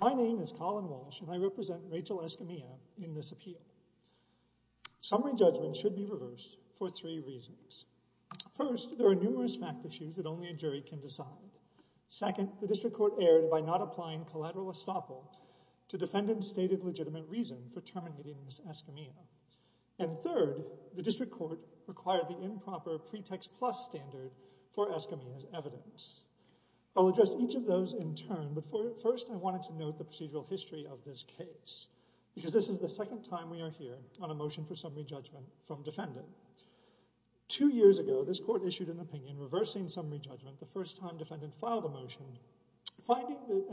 My name is Colin Walsh, and I represent Rachel Escamilla in this appeal. Summary judgments should be reversed for three reasons. First, there are numerous fact issues that only a jury can decide. Second, the District Court erred by not applying collateral estoppel to defendants' stated legitimate reason for terminating Ms. Escamilla. And third, the District Court required the improper pretext plus standard for Escamilla's evidence. I'll address each of those in turn, but first I wanted to note the procedural history of this case, because this is the second time we are hearing on a motion for summary judgment from defendant. Two years ago, this court issued an opinion reversing summary judgment the first time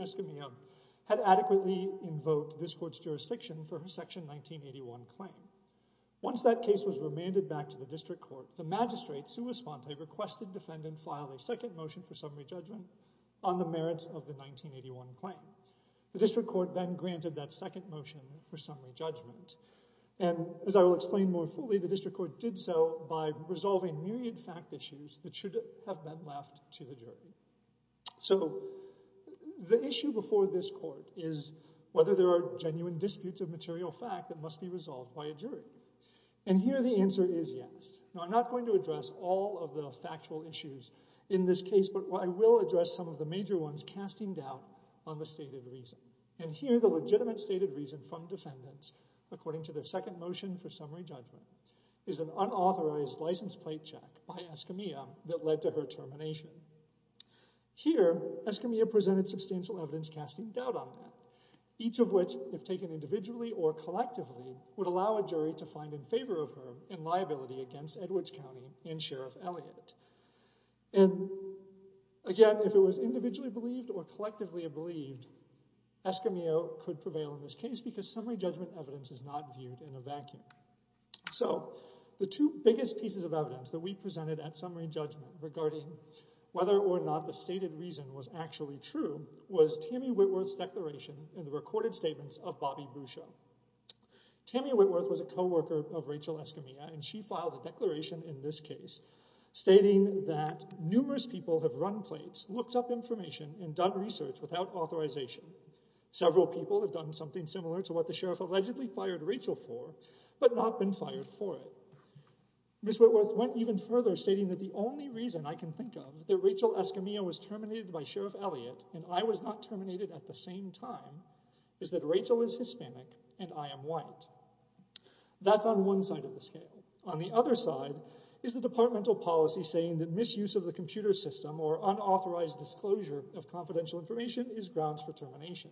Escamilla had adequately invoked this court's jurisdiction for her Section 1981 claim. Once that case was remanded back to the District Court, the magistrate, sua sponte, requested defendant file a second motion for summary judgment on the merits of the 1981 claim. The District Court then granted that second motion for summary judgment. And as I will explain more fully, the District Court did so by resolving myriad fact issues that should have been left to the jury. So the issue before this court is whether there are genuine disputes of material fact that must be resolved by a jury. And here the answer is yes. Now I'm not going to address all of the factual issues in this case, but I will address some of the major ones casting doubt on the stated reason. And here the legitimate stated reason from defendants, according to their second motion for summary judgment, is an unauthorized license plate check by Escamilla that led to her termination. Here, Escamilla presented substantial evidence casting doubt on that, each of which, if taken individually or collectively, would allow a jury to find in favor of her in liability against Edwards County and Sheriff Elliott. And again, if it was individually believed or collectively believed, Escamilla could prevail in this case because summary judgment evidence is not viewed in a vacuum. So the two biggest pieces of evidence that we presented at summary judgment regarding whether or not the stated reason was actually true was Tammy Whitworth's declaration in the recorded statements of Bobby Boucher. Tammy Whitworth was a co-worker of Rachel Escamilla, and she filed a declaration in this case stating that numerous people have run plates, looked up information, and done research without authorization. Several people have done something similar to what the sheriff allegedly fired Rachel for, but not been fired for it. Ms. Whitworth went even further, stating that the only reason I can think of that Rachel Escamilla was terminated by Sheriff Elliott and I was not terminated at the same time is that Rachel is Hispanic and I am white. That's on one side of the scale. On the other side is the departmental policy saying that misuse of the computer system or unauthorized disclosure of confidential information is grounds for termination.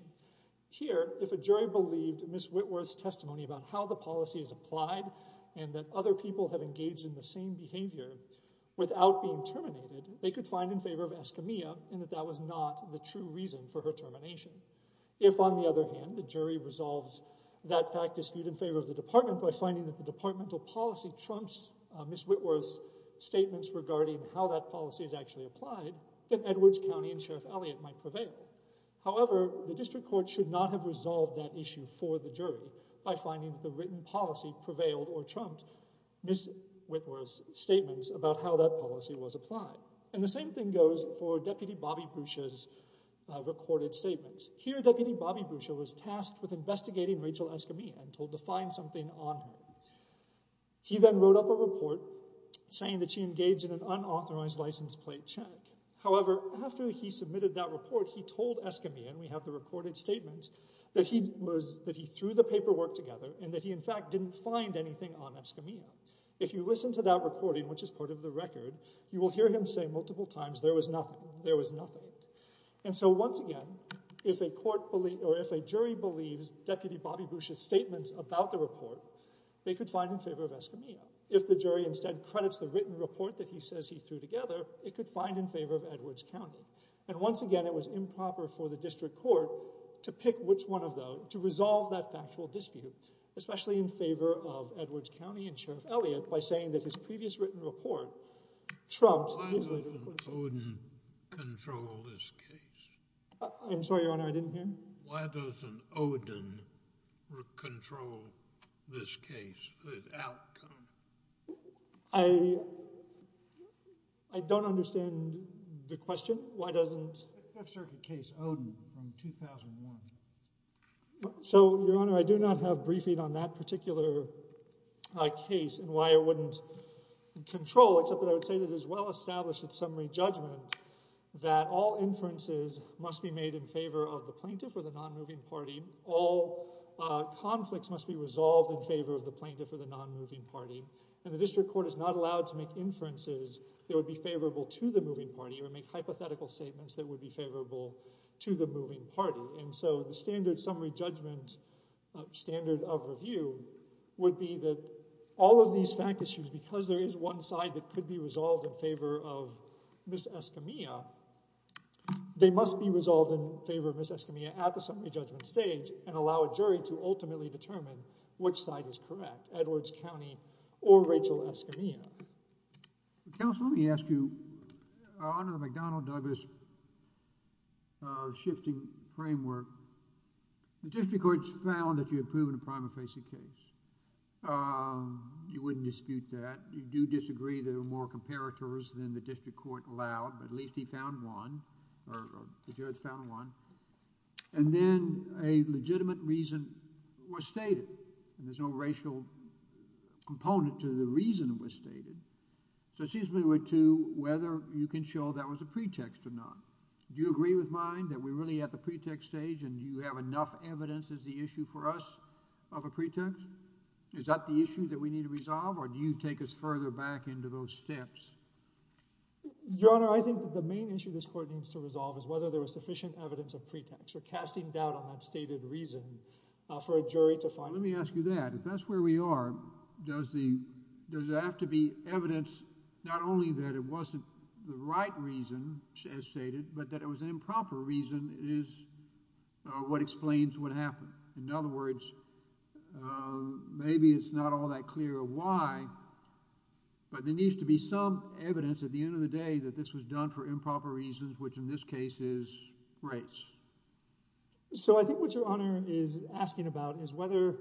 Here if a jury believed Ms. Whitworth's testimony about how the policy is applied and that other people have engaged in the same behavior without being terminated, they could find in favor of Escamilla and that that was not the true reason for her termination. If on the other hand the jury resolves that fact dispute in favor of the department by finding that the departmental policy trumps Ms. Whitworth's statements regarding how that policy was applied, then Edwards County and Sheriff Elliott might prevail. However, the district court should not have resolved that issue for the jury by finding the written policy prevailed or trumped Ms. Whitworth's statements about how that policy was applied. And the same thing goes for Deputy Bobby Bruscia's recorded statements. Here Deputy Bobby Bruscia was tasked with investigating Rachel Escamilla and told to find something on her. He then wrote up a report saying that she engaged in an unauthorized license plate check. However, after he submitted that report, he told Escamilla, and we have the recorded statements, that he threw the paperwork together and that he in fact didn't find anything on Escamilla. If you listen to that recording, which is part of the record, you will hear him say multiple times there was nothing. There was nothing. And so once again, if a court or if a jury believes Deputy Bobby Bruscia's statements about the report, they could find in favor of Escamilla. If the jury instead credits the written report that he says he threw together, it could find in favor of Edwards County. And once again, it was improper for the district court to pick which one of those, to resolve that factual dispute, especially in favor of Edwards County and Sheriff Elliott by saying that his previous written report trumped Ms. Whitworth's statements. Why doesn't Oden control this case? I'm sorry, Your Honor, I didn't hear you. Why doesn't Oden control this case, this outcome? I don't understand the question. Why doesn't... Fifth Circuit case, Oden, from 2001. So Your Honor, I do not have briefing on that particular case and why it wouldn't control, except that I would say that it is well-established in summary judgment that all inferences must be made in favor of the plaintiff or the non-moving party, all conflicts must be resolved in favor of the plaintiff or the non-moving party, and the district court is not allowed to make inferences that would be favorable to the moving party or make hypothetical statements that would be favorable to the moving party. And so the standard summary judgment standard of review would be that all of these fact issues, because there is one side that could be resolved in favor of Ms. Escamilla, they could be resolved in favor of Ms. Escamilla at the summary judgment stage and allow a jury to ultimately determine which side is correct, Edwards County or Rachel Escamilla. Counsel, let me ask you, under the McDonnell-Douglas shifting framework, the district courts found that you had proven a prima facie case. You wouldn't dispute that. You do disagree there are more comparators than the district court allowed, but at least he found one or the jurors found one. And then a legitimate reason was stated, and there's no racial component to the reason it was stated. So it seems to me we're to whether you can show that was a pretext or not. Do you agree with mine that we're really at the pretext stage and you have enough evidence as the issue for us of a pretext? Is that the issue that we need to resolve or do you take us further back into those steps? Your Honor, I think that the main issue this court needs to resolve is whether there was sufficient evidence of pretext or casting doubt on that stated reason for a jury to find one. Let me ask you that. If that's where we are, does there have to be evidence not only that it wasn't the right reason as stated, but that it was an improper reason is what explains what happened. In other words, maybe it's not all that clear why, but there needs to be some evidence at the end of the day that this was done for improper reasons, which in this case is race. So I think what Your Honor is asking about is whether,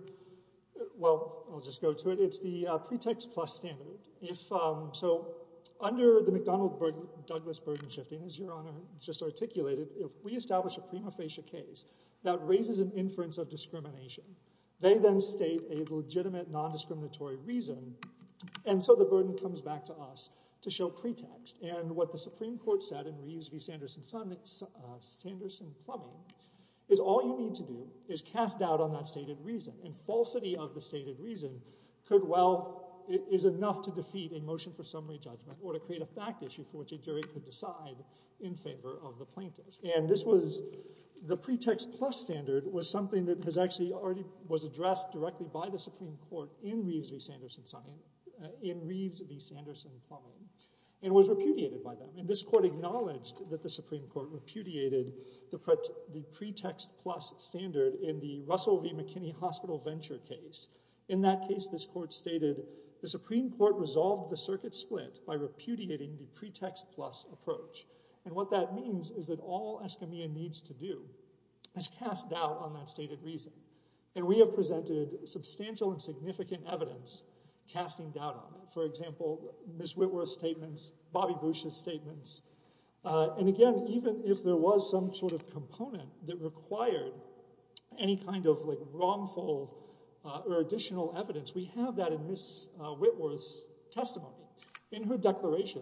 well, I'll just go to it. It's the pretext plus standard. So under the McDonald-Douglas burden shifting, as Your Honor just articulated, if we establish a prima facie case that raises an inference of discrimination, they then state a legitimate non-discriminatory reason. And so the burden comes back to us to show pretext. And what the Supreme Court said in Reeves v. Sanderson-Plummy is all you need to do is cast doubt on that stated reason and falsity of the stated reason could well, is enough to defeat a motion for summary judgment or to create a fact issue for which a jury could decide in favor of the plaintiff. And this was, the pretext plus standard was something that has actually already, was addressed directly by the Supreme Court in Reeves v. Sanderson-Plummy and was repudiated by them. And this court acknowledged that the Supreme Court repudiated the pretext plus standard in the Russell v. McKinney hospital venture case. In that case, this court stated, the Supreme Court resolved the circuit split by repudiating the pretext plus approach. And what that means is that all Escamilla needs to do is cast doubt on that stated reason. And we have presented substantial and significant evidence casting doubt on it. For example, Ms. Whitworth's statements, Bobby Bush's statements. And again, even if there was some sort of component that required any kind of like wrongful or additional evidence, we have that in Ms. Whitworth's testimony. In her declaration,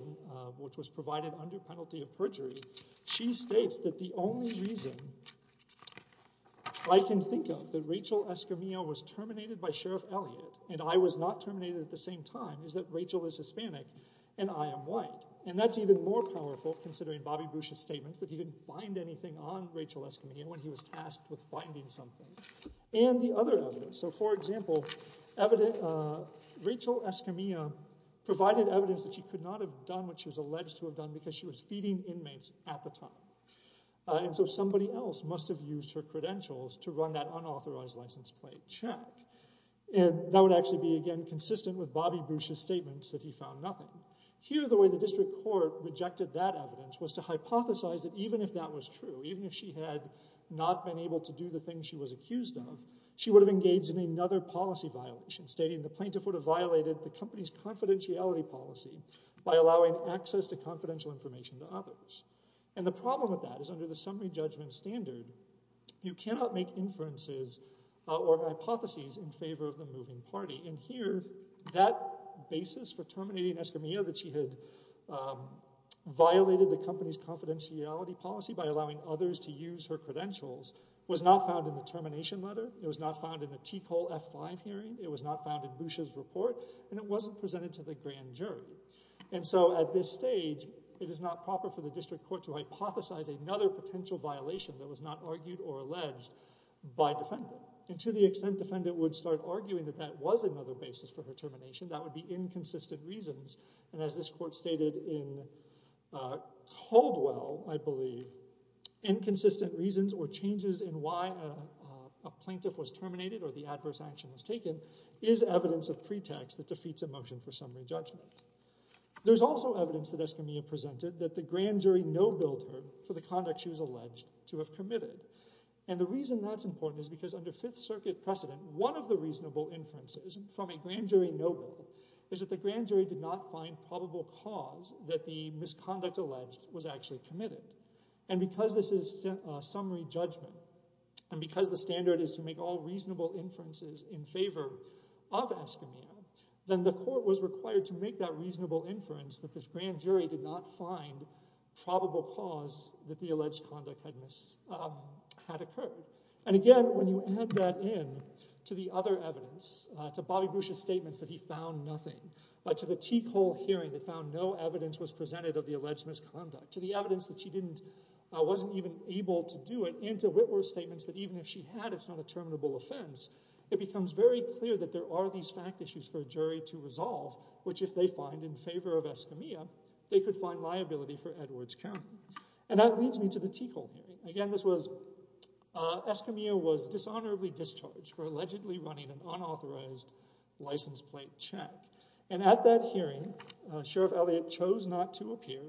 which was provided under penalty of perjury, she states that the only reason I can think of that Rachel Escamilla was terminated by Sheriff Elliott and I was not terminated at the same time is that Rachel is Hispanic and I am white. And that's even more powerful considering Bobby Bush's statements that he didn't find anything on Rachel Escamilla when he was tasked with finding something. And the other evidence. So for example, Rachel Escamilla provided evidence that she could not have done what she was alleged to have done because she was feeding inmates at the time. And so somebody else must have used her credentials to run that unauthorized license plate check. And that would actually be, again, consistent with Bobby Bush's statements that he found nothing. Here, the way the district court rejected that evidence was to hypothesize that even if that was true, even if she had not been able to do the things she was accused of, she would have engaged in another policy violation stating the plaintiff would have violated the company's confidentiality policy by allowing access to confidential information to others. And the problem with that is under the summary judgment standard, you cannot make inferences or hypotheses in favor of the moving party. And here, that basis for terminating Escamilla that she had violated the company's confidentiality policy by allowing others to use her credentials was not found in the termination letter. It was not found in the T. Cole F5 hearing. It was not found in Bush's report. And it wasn't presented to the grand jury. And so at this stage, it is not proper for the district court to hypothesize another potential violation that was not argued or alleged by defendant. And to the extent defendant would start arguing that that was another basis for her termination, that would be inconsistent reasons. And as this court stated in Caldwell, I believe, inconsistent reasons or changes in why a plaintiff was terminated or the adverse action was taken is evidence of pretext that defeats a motion for summary judgment. There's also evidence that Escamilla presented that the grand jury no billed her for the conduct she was alleged to have committed. And the reason that's important is because under Fifth Circuit precedent, one of the jurors did not find probable cause that the misconduct alleged was actually committed. And because this is summary judgment and because the standard is to make all reasonable inferences in favor of Escamilla, then the court was required to make that reasonable inference that this grand jury did not find probable cause that the alleged conduct had occurred. And again, when you add that in to the other evidence, to Bobby Bush's statements that he found nothing, but to the Teak Hall hearing that found no evidence was presented of the alleged misconduct, to the evidence that she wasn't even able to do it, and to Whitworth's statements that even if she had, it's not a terminable offense, it becomes very clear that there are these fact issues for a jury to resolve, which if they find in favor of Escamilla, they could find liability for Edwards County. And that leads me to the Teak Hall hearing. Again, this was Escamilla was dishonorably discharged for allegedly running an unauthorized license plate check. And at that hearing, Sheriff Elliott chose not to appear,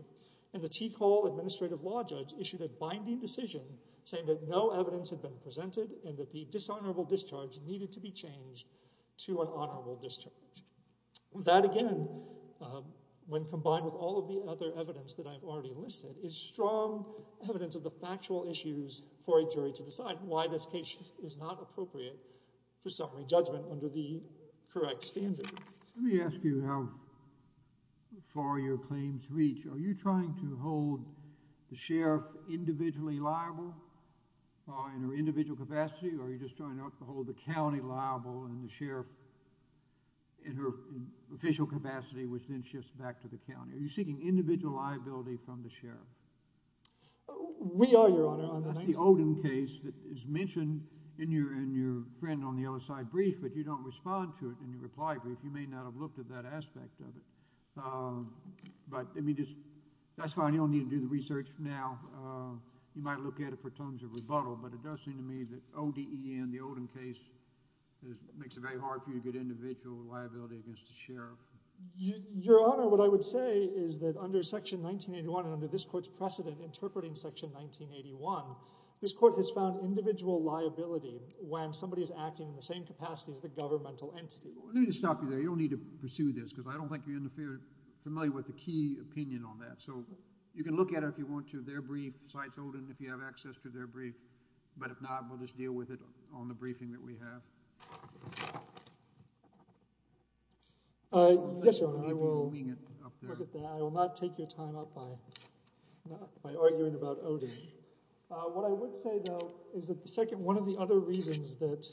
and the Teak Hall administrative law judge issued a binding decision saying that no evidence had been presented and that the dishonorable discharge needed to be changed to an honorable discharge. That again, when combined with all of the other evidence that I've already listed, is strong evidence of the factual issues for a jury to decide why this case is not appropriate for summary judgment under the correct standard. Let me ask you how far your claims reach. Are you trying to hold the sheriff individually liable in her individual capacity, or are you just trying to hold the county liable and the sheriff in her official capacity, which then shifts back to the county? Are you seeking individual liability from the sheriff? We are, Your Honor. That's the Oden case that is mentioned in your friend on the other side brief, but you don't respond to it in your reply brief. You may not have looked at that aspect of it. But let me just that's fine. You don't need to do the research now. You might look at it for terms of rebuttal, but it does seem to me that O-D-E-N, the Oden Your Honor, what I would say is that under Section 1981 and under this court's precedent interpreting Section 1981, this court has found individual liability when somebody is acting in the same capacity as the governmental entity. Let me just stop you there. You don't need to pursue this because I don't think you're familiar with the key opinion on that. So you can look at it if you want to, their brief, besides Oden, if you have access to their brief. But if not, we'll just deal with it on the briefing that we have. Yes, Your Honor, I will not take your time up by arguing about Oden. What I would say, though, is that the second one of the other reasons that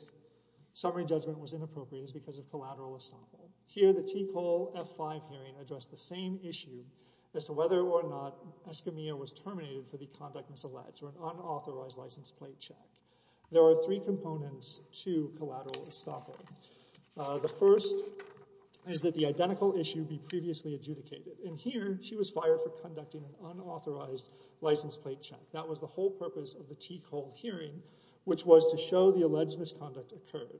summary judgment was inappropriate is because of collateral estoppel. Here, the T. Cole F-5 hearing addressed the same issue as to whether or not Escamilla was terminated for the conduct misalleged or an unauthorized license plate check. There are three components to collateral estoppel. The first is that the identical issue be previously adjudicated. And here, she was fired for conducting an unauthorized license plate check. That was the whole purpose of the T. Cole hearing, which was to show the alleged misconduct occurred.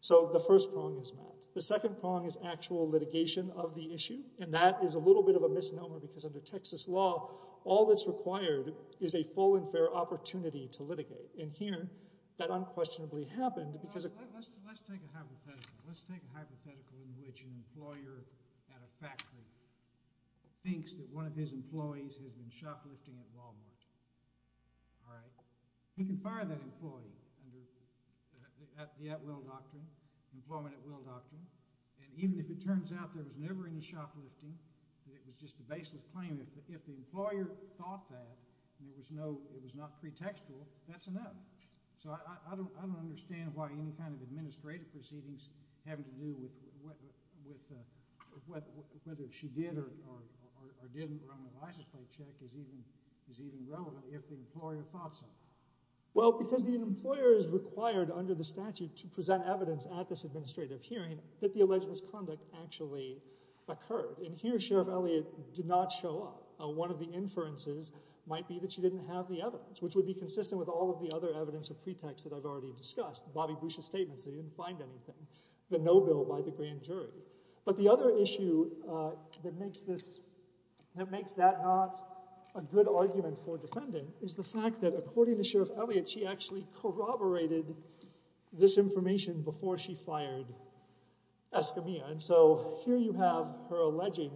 So the first prong is met. The second prong is actual litigation of the issue. And that is a little bit of a misnomer because under Texas law, all that's required is a full and fair opportunity to litigate. And here, that unquestionably happened because of. Let's let's take a hypothetical. Let's take a hypothetical in which an employer at a factory thinks that one of his employees has been shoplifting at Walmart. All right. You can fire that employee at the at will doctrine, employment at will doctrine. And even if it turns out there was never any shoplifting, it was just a baseless claim. If the employer thought that there was no, it was not pretextual. That's enough. So I don't understand why any kind of administrative proceedings having to do with whether she did or didn't run the license plate check is even relevant if the employer thought so. Well, because the employer is required under the statute to present evidence at this administrative hearing that the alleged misconduct actually occurred. And here, Sheriff Elliott did not show up. One of the inferences might be that she didn't have the evidence, which would be consistent with all of the other evidence of pretext that I've already discussed. Bobby Bush's statements that he didn't find anything, the no bill by the grand jury. But the other issue that makes this, that makes that not a good argument for defending is the fact that according to Sheriff Elliott, she actually corroborated this information before she fired Escamilla. And so here you have her alleging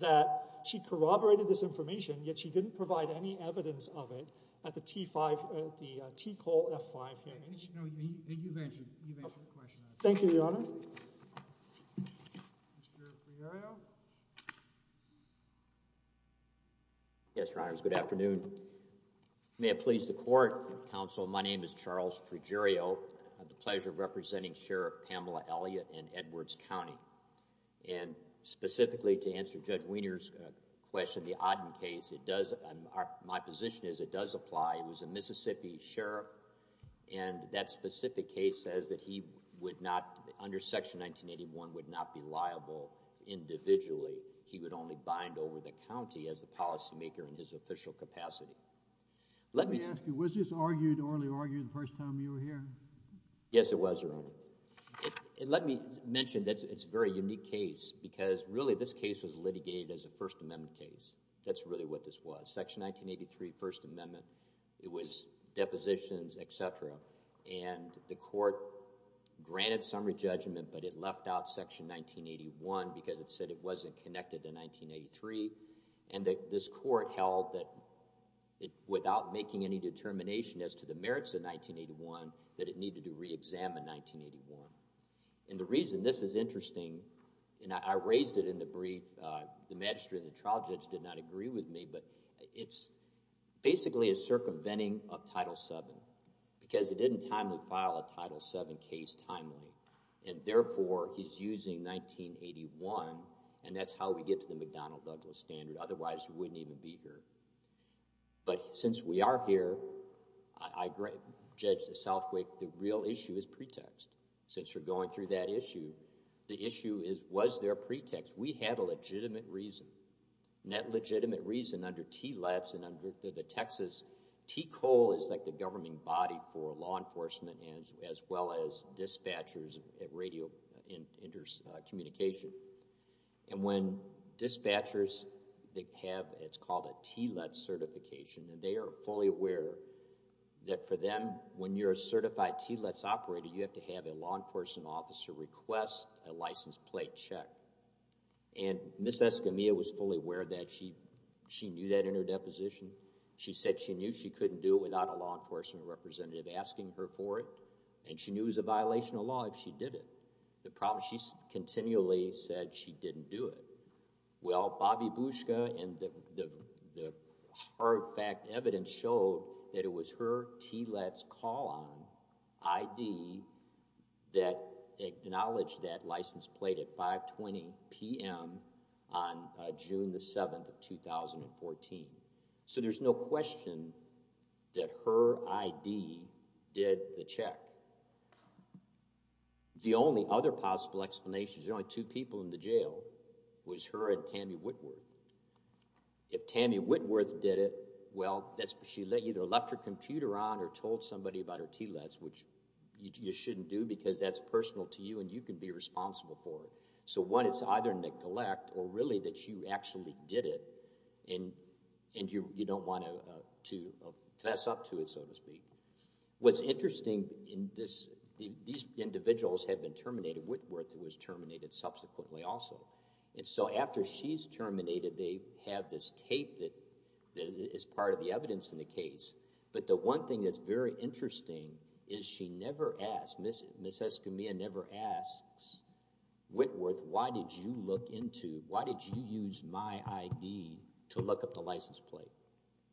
that she corroborated this information, yet she didn't provide any evidence of it at the T5, the T-Call F5 hearings. Thank you, Your Honor. Yes, Your Honors. Good afternoon. May it please the court, counsel. My name is Charles Fruggerio. I have the pleasure of representing Sheriff Pamela Elliott in Edwards County. And specifically to answer Judge Wiener's question, the Odden case, it does, my position is it does apply. It was a Mississippi Sheriff and that specific case says that he would not, under section 1981, would not be liable individually. He would only bind over the county as the policymaker in his official capacity. Let me ask you, was this argued, orally argued the first time you were here? Yes, it was, Your Honor. Let me mention that it's a very unique case because really this case was litigated as a first amendment case. That's really what this was. Section 1983, first amendment, it was depositions, et cetera. And the court granted summary judgment, but it left out section 1981 because it said it wasn't connected to 1983. And that this court held that without making any determination as to the merits of 1981, that it needed to re-examine 1981. And the reason this is interesting, and I raised it in the brief, the court did not agree with me, but it's basically a circumventing of Title VII because it didn't timely file a Title VII case timely and therefore he's using 1981 and that's how we get to the McDonnell Douglas standard. Otherwise, we wouldn't even be here. But since we are here, I judge the Southquake, the real issue is pretext. Since you're going through that issue, the issue is, was there a pretext? We had a legitimate reason. And that legitimate reason under TLETS and under the Texas, TCOLE is like the governing body for law enforcement as well as dispatchers at radio communication. And when dispatchers, they have, it's called a TLETS certification and they are fully aware that for them, when you're a certified TLETS operator, you have to have a law enforcement officer request a license plate check. And Ms. Escamilla was fully aware of that. She, she knew that in her deposition. She said she knew she couldn't do it without a law enforcement representative asking her for it. And she knew it was a violation of law if she did it. The problem, she continually said she didn't do it. Well, Bobby Bushka and the hard fact evidence showed that it was her TLETS call on ID that acknowledged that license plate at 520 PM on June the 7th of 2014. So there's no question that her ID did the check. The only other possible explanation, there's only two people in the jail, was her and Tammy Whitworth. If Tammy Whitworth did it, well, that's, she either left her computer on or told somebody about her TLETS, which you shouldn't do because that's personal to you and you can be responsible for it. So what it's either neglect or really that you actually did it and, and you, you don't want to, to fess up to it, so to speak. What's interesting in this, these individuals have been terminated. Whitworth was terminated subsequently also. And so after she's terminated, they have this tape that is part of the evidence in the case, but the one thing that's very interesting is she never asked, Ms. Escamilla never asks Whitworth, why did you look into, why did you use my ID to look up the license plate?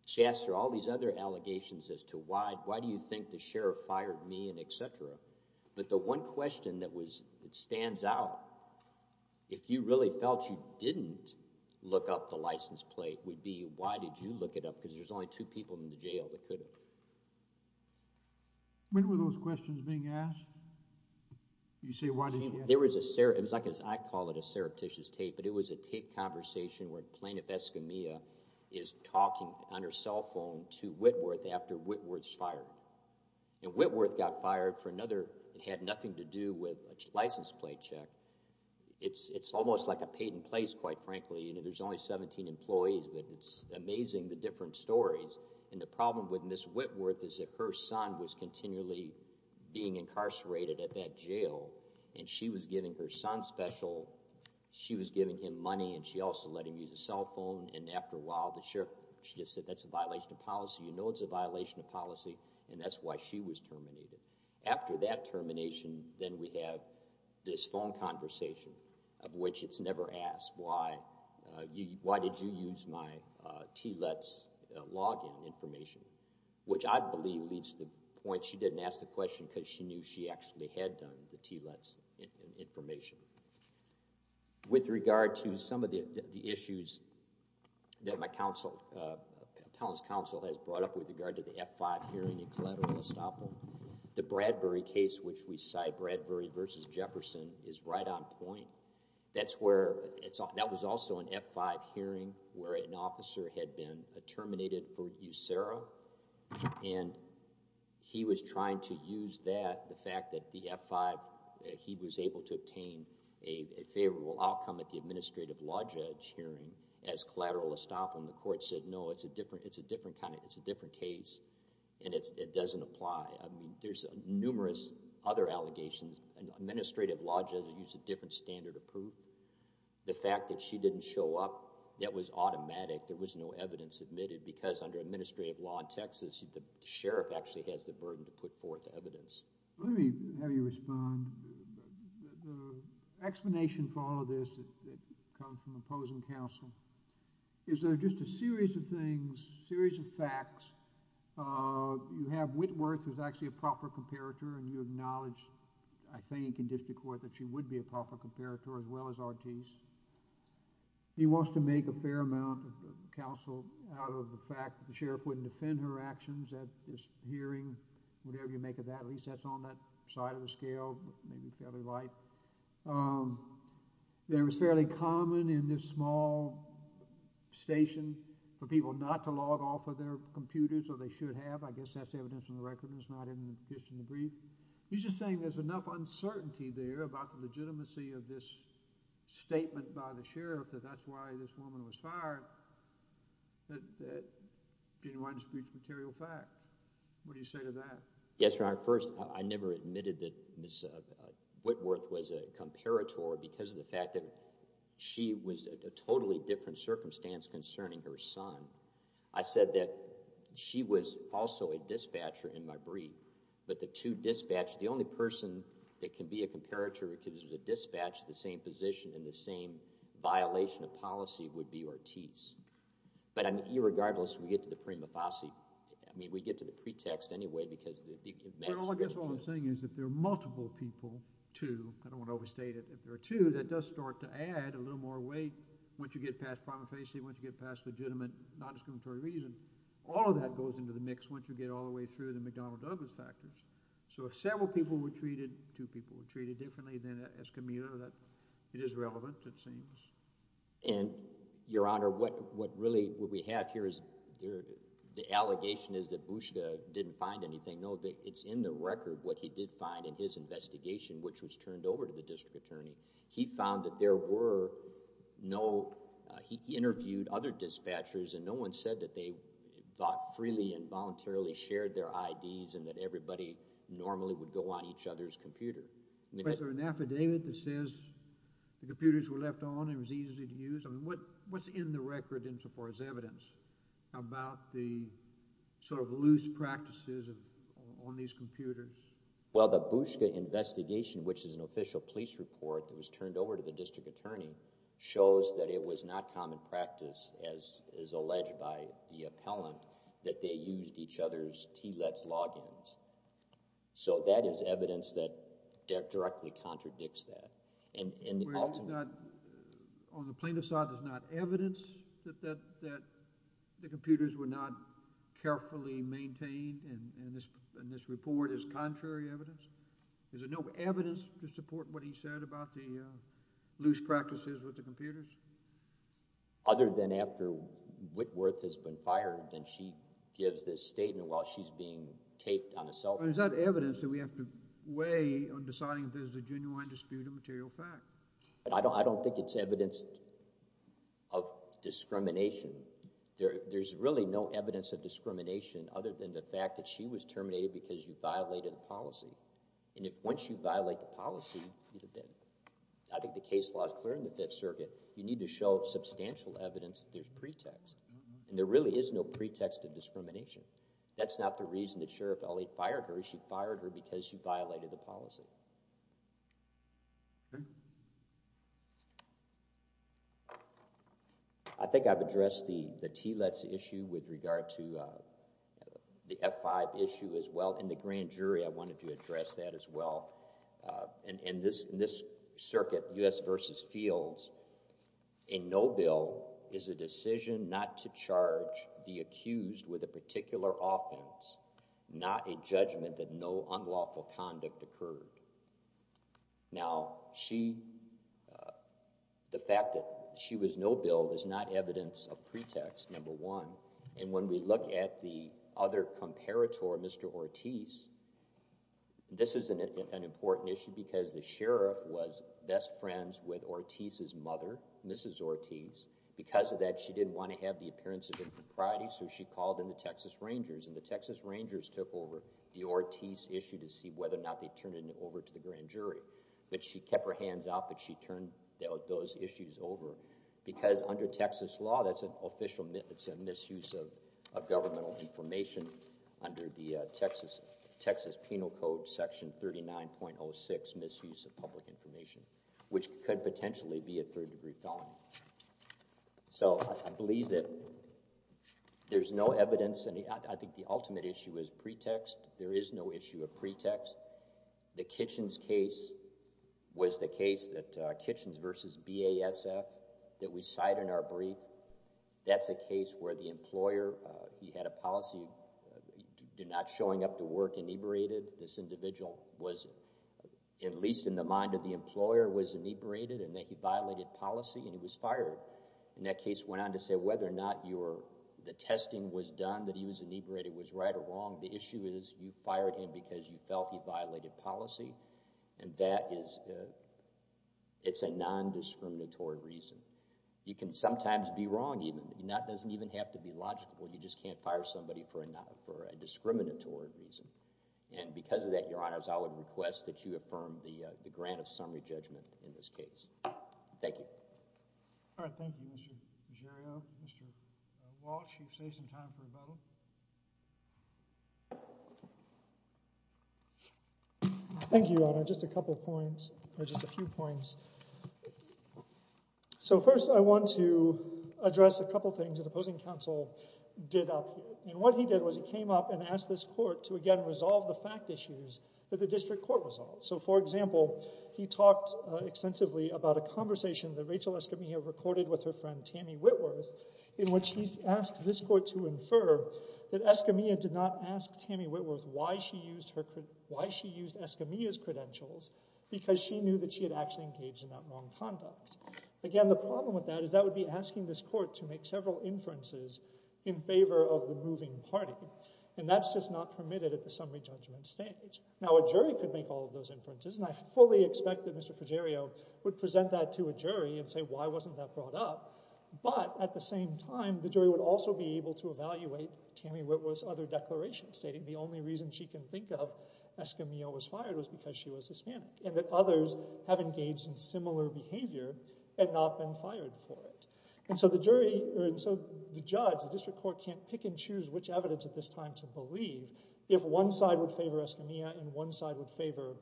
She asked her all these other allegations as to why, why do you think the sheriff fired me and et cetera. But the one question that was, it stands out, if you really felt you didn't look up the license plate would be, why did you look it up? Cause there's only two people in the jail that could have. When were those questions being asked? You say, why didn't you? There was a, it was like, I call it a surreptitious tape, but it was a tape conversation where plaintiff Escamilla is talking on her cell phone to Whitworth after Whitworth's fired. And Whitworth got fired for another, it had nothing to do with a license plate check. It's, it's almost like a paid in place, quite frankly, you know, there's only 17 employees, but it's amazing. The different stories and the problem with Ms. Whitworth is that her son was continually being incarcerated at that jail. And she was giving her son special, she was giving him money. And she also let him use a cell phone. And after a while, the sheriff, she just said, that's a violation of policy. You know, it's a violation of policy. And that's why she was terminated. After that termination, then we have this phone conversation of which it's never asked why, why did you use my TLET's login information, which I believe leads to the point, she didn't ask the question because she knew she actually had done the TLET's information. With regard to some of the issues that my counsel, Pound's counsel has brought up with regard to the F-5 hearing in Collateral Estoppel, the Bradbury case, which we cite Bradbury versus Jefferson is right on point. That's where it's all, that was also an F-5 hearing where an officer had been terminated for usuro, and he was trying to use that, the fact that the F-5, he was able to obtain a favorable outcome at the administrative law judge hearing as Collateral Estoppel, and the court said, no, it's a different, it's a different kind of, it's a different case. And it's, it doesn't apply. I mean, there's numerous other allegations and administrative law judges use a different standard of proof. The fact that she didn't show up, that was automatic. There was no evidence admitted because under administrative law in Texas, the sheriff actually has the burden to put forth evidence. Let me have you respond. The explanation for all of this that comes from opposing counsel is that just a series of things, series of facts, you have Whitworth was actually a proper comparator and you acknowledged, I think, in district court that she would be a proper comparator as well as Ortiz. He wants to make a fair amount of counsel out of the fact that the sheriff wouldn't defend her actions at this hearing, whatever you make of that. At least that's on that side of the scale, maybe fairly light. There was fairly common in this small station for people not to log off of their computers, or they should have. I guess that's evidence in the record and it's not in the brief. He's just saying there's enough uncertainty there about the legitimacy of this statement by the sheriff that that's why this woman was fired. That didn't want to speak to material fact. What do you say to that? Yes, your honor. First, I never admitted that Ms. Whitworth was a comparator because of the fact that she was a totally different circumstance concerning her son. I said that she was also a dispatcher in my brief, but the two dispatch, the only person that can be a comparator because there's a dispatch at the same position in the same violation of policy would be Ortiz. But I mean, irregardless, we get to the prima facie. I mean, we get to the pretext anyway, because the maximum. I guess all I'm saying is if there are multiple people to, I don't want to overstate it, if there are two, that does start to add a little more weight. Once you get past prima facie, once you get past legitimate non-discriminatory reason, all of that goes into the mix once you get all the way through the McDonnell Douglas factors. So if several people were treated, two people were treated differently than Escamilla, that it is relevant, it seems. And your honor, what, what really, what we have here is there, the allegation is that Bouchica didn't find anything. No, it's in the record what he did find in his investigation, which was turned over to the district attorney. He found that there were no, uh, he interviewed other dispatchers and no one said that they thought freely and voluntarily shared their IDs and that everybody normally would go on each other's computer, an affidavit that says the computers were left on and it was easy to use. I mean, what, what's in the record in so far as evidence about the sort of loose practices on these computers? Well, the Bouchica investigation, which is an official police report that was turned over to the district attorney, shows that it was not common practice as, as alleged by the appellant, that they used each other's TLET's logins. So that is evidence that directly contradicts that. And in the ultimate... Where it's not, on the plaintiff's side, there's not evidence that, that, that the computers were not carefully maintained and, and this, and this report is contrary evidence? Is there no evidence to support what he said about the, uh, loose practices with the computers? Other than after Whitworth has been fired, then she gives this statement while she's being taped on a cell phone. Is that evidence that we have to weigh on deciding if there's a genuine dispute of material fact? I don't, I don't think it's evidence of discrimination. There, there's really no evidence of discrimination other than the fact that she was terminated because you violated the policy. And if, once you violate the policy, I think the case law is clear in the fifth circuit, you need to show substantial evidence that there's pretext and there really is no pretext of discrimination. That's not the reason that Sheriff Elliott fired her. She fired her because she violated the policy. I think I've addressed the, the TLETS issue with regard to, uh, the F5 issue as well, and the grand jury, I wanted to address that as well, uh, and, and this, this circuit, U.S. versus Fields, a no bill is a decision not to charge the accused with a particular offense, not a judgment that no unlawful conduct occurred. Now she, uh, the fact that she was no bill is not evidence of pretext number one, and when we look at the other comparator, Mr. Ortiz, this is an important issue because the sheriff was best friends with Ortiz's mother, Mrs. Ortiz, because of that, she didn't want to have the appearance of impropriety, so she called in the Texas Rangers and the Texas Rangers took over the Ortiz issue to see whether or not they turned it over to the grand jury, but she kept her hands out, but she turned those issues over because under Texas law, that's an official myth. It's a misuse of a governmental information under the Texas, Texas penal code section 39.06 misuse of public information, which could potentially be a third degree felony. So I believe that there's no evidence. I think the ultimate issue is pretext. There is no issue of pretext. The Kitchens case was the case that, uh, Kitchens versus BASF that we cite in our brief, that's a case where the employer, uh, he had a policy, did not showing up to work inebriated. This individual was, at least in the mind of the employer, was inebriated and then he violated policy and he was fired, and that case went on to say whether or not your, the testing was done, that he was inebriated was right or wrong. The issue is you fired him because you felt he violated policy. And that is, uh, it's a non-discriminatory reason. You can sometimes be wrong. Even that doesn't even have to be logical. You just can't fire somebody for a non, for a discriminatory reason. And because of that, your honors, I would request that you affirm the, uh, the grant of summary judgment in this case. Thank you. All right. Thank you, Mr. Giorgio. Mr. Walsh, you've saved some time for a vote. Thank you, Your Honor. Just a couple of points, or just a few points. So first I want to address a couple of things that opposing counsel did up. And what he did was he came up and asked this court to again, resolve the fact issues that the district court resolved. So for example, he talked extensively about a conversation that Rachel Escamilla recorded with her friend, Tammy Whitworth, in which he asked this court to infer that Escamilla did not ask Tammy Whitworth why she used her, why she used Escamilla's credentials because she knew that she had actually engaged in that wrong conduct. Again, the problem with that is that would be asking this court to make several inferences in favor of the moving party. And that's just not permitted at the summary judgment stage. Now a jury could make all of those inferences. And I fully expect that Mr. Fuggerio would present that to a jury and say, why wasn't that brought up? But at the same time, the jury would also be able to evaluate Tammy Whitworth's other declaration stating the only reason she can think of Escamilla was fired was because she was Hispanic and that others have engaged in similar behavior and not been fired for it. And so the jury, or so the judge, the district court can't pick and choose which evidence at this time to believe if one side would favor Escamilla and one side would favor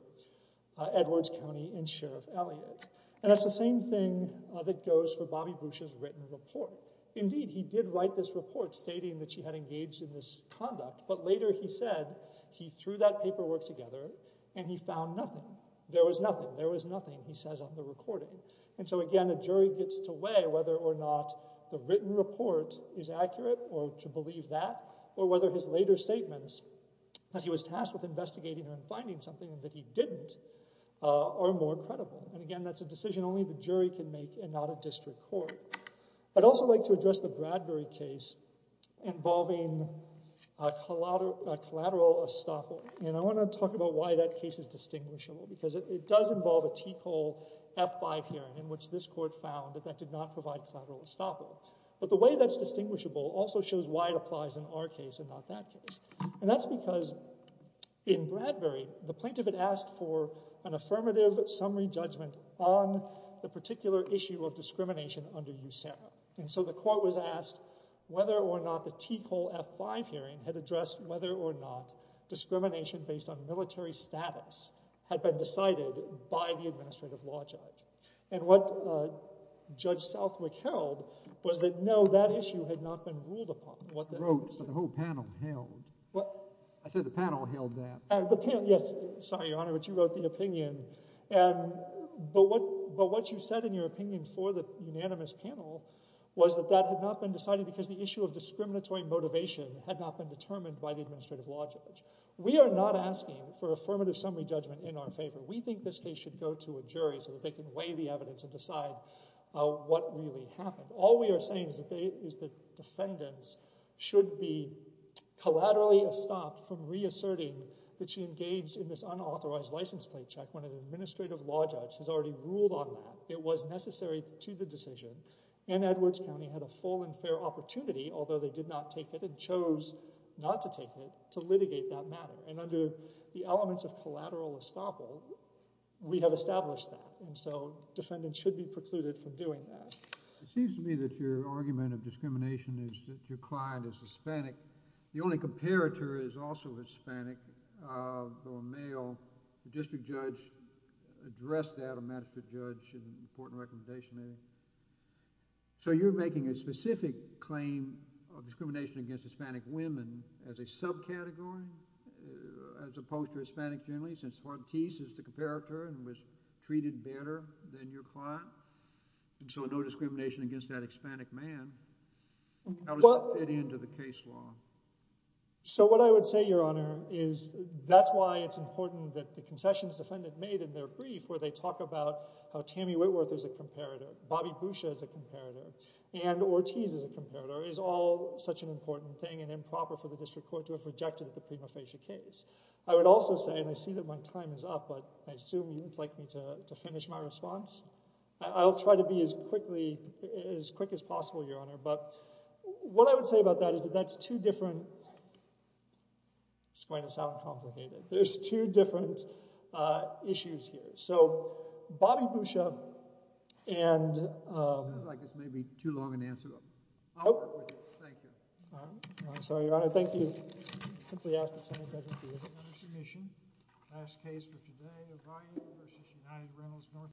Edwards County and Sheriff Elliott. And that's the same thing that goes for Bobby Bush's written report. Indeed, he did write this report stating that she had engaged in this conduct, but later he said he threw that paperwork together and he found nothing. There was nothing. There was nothing, he says on the recording. And so again, the jury gets to weigh whether or not the written report is or whether his later statements that he was tasked with investigating and finding something that he didn't, uh, are more credible. And again, that's a decision only the jury can make and not a district court. I'd also like to address the Bradbury case involving a collateral, a collateral estoppel. And I want to talk about why that case is distinguishable because it does involve a Ticole F5 hearing in which this court found that that did not provide collateral estoppel. But the way that's distinguishable also shows why it applies in our case and not that case. And that's because in Bradbury, the plaintiff had asked for an affirmative summary judgment on the particular issue of discrimination under USERRA. And so the court was asked whether or not the Ticole F5 hearing had addressed whether or not discrimination based on military status had been decided by the administrative law judge. And what, uh, Judge Southwick held was that, no, that issue had not been ruled upon. What the whole panel held, what I said, the panel held that the panel, yes, sorry, Your Honor, but you wrote the opinion and, but what, but what you said in your opinion for the unanimous panel was that that had not been decided because the issue of discriminatory motivation had not been determined by the administrative law judge. We are not asking for affirmative summary judgment in our favor. We think this case should go to a jury so that they can weigh the evidence and decide, uh, what really happened. All we are saying is that they, is the defendants should be collaterally estopped from reasserting that she engaged in this unauthorized license plate check when an administrative law judge has already ruled on that. It was necessary to the decision and Edwards County had a full and fair opportunity, although they did not take it and chose not to take it, to litigate that matter. And under the elements of collateral estoppel, we have established that. And so defendants should be precluded from doing that. It seems to me that your argument of discrimination is that your client is Hispanic. The only comparator is also Hispanic, uh, though a male district judge addressed that, a magistrate judge, an important recommendation there. So you're making a specific claim of discrimination against Hispanic women as a subcategory, uh, as opposed to Hispanic generally, since Ortiz is the comparator and was treated better than your client. And so no discrimination against that Hispanic man, how does that fit into the case law? So what I would say, Your Honor, is that's why it's important that the concessions defendant made in their brief, where they talk about how Tammy Whitworth is a comparator, Bobby Boucher is a comparator, and Ortiz is a discrimination is not proper for the district court to have rejected the prima facie case. I would also say, and I see that my time is up, but I assume you'd like me to finish my response. I'll try to be as quickly as quick as possible, Your Honor. But what I would say about that is that that's two different, this is going to sound complicated. There's two different, uh, issues here. So Bobby Boucher and, um, I guess it may be too long an answer. Oh, thank you. Sorry, Your Honor. Thank you. Simply ask the Senate. Last case for today.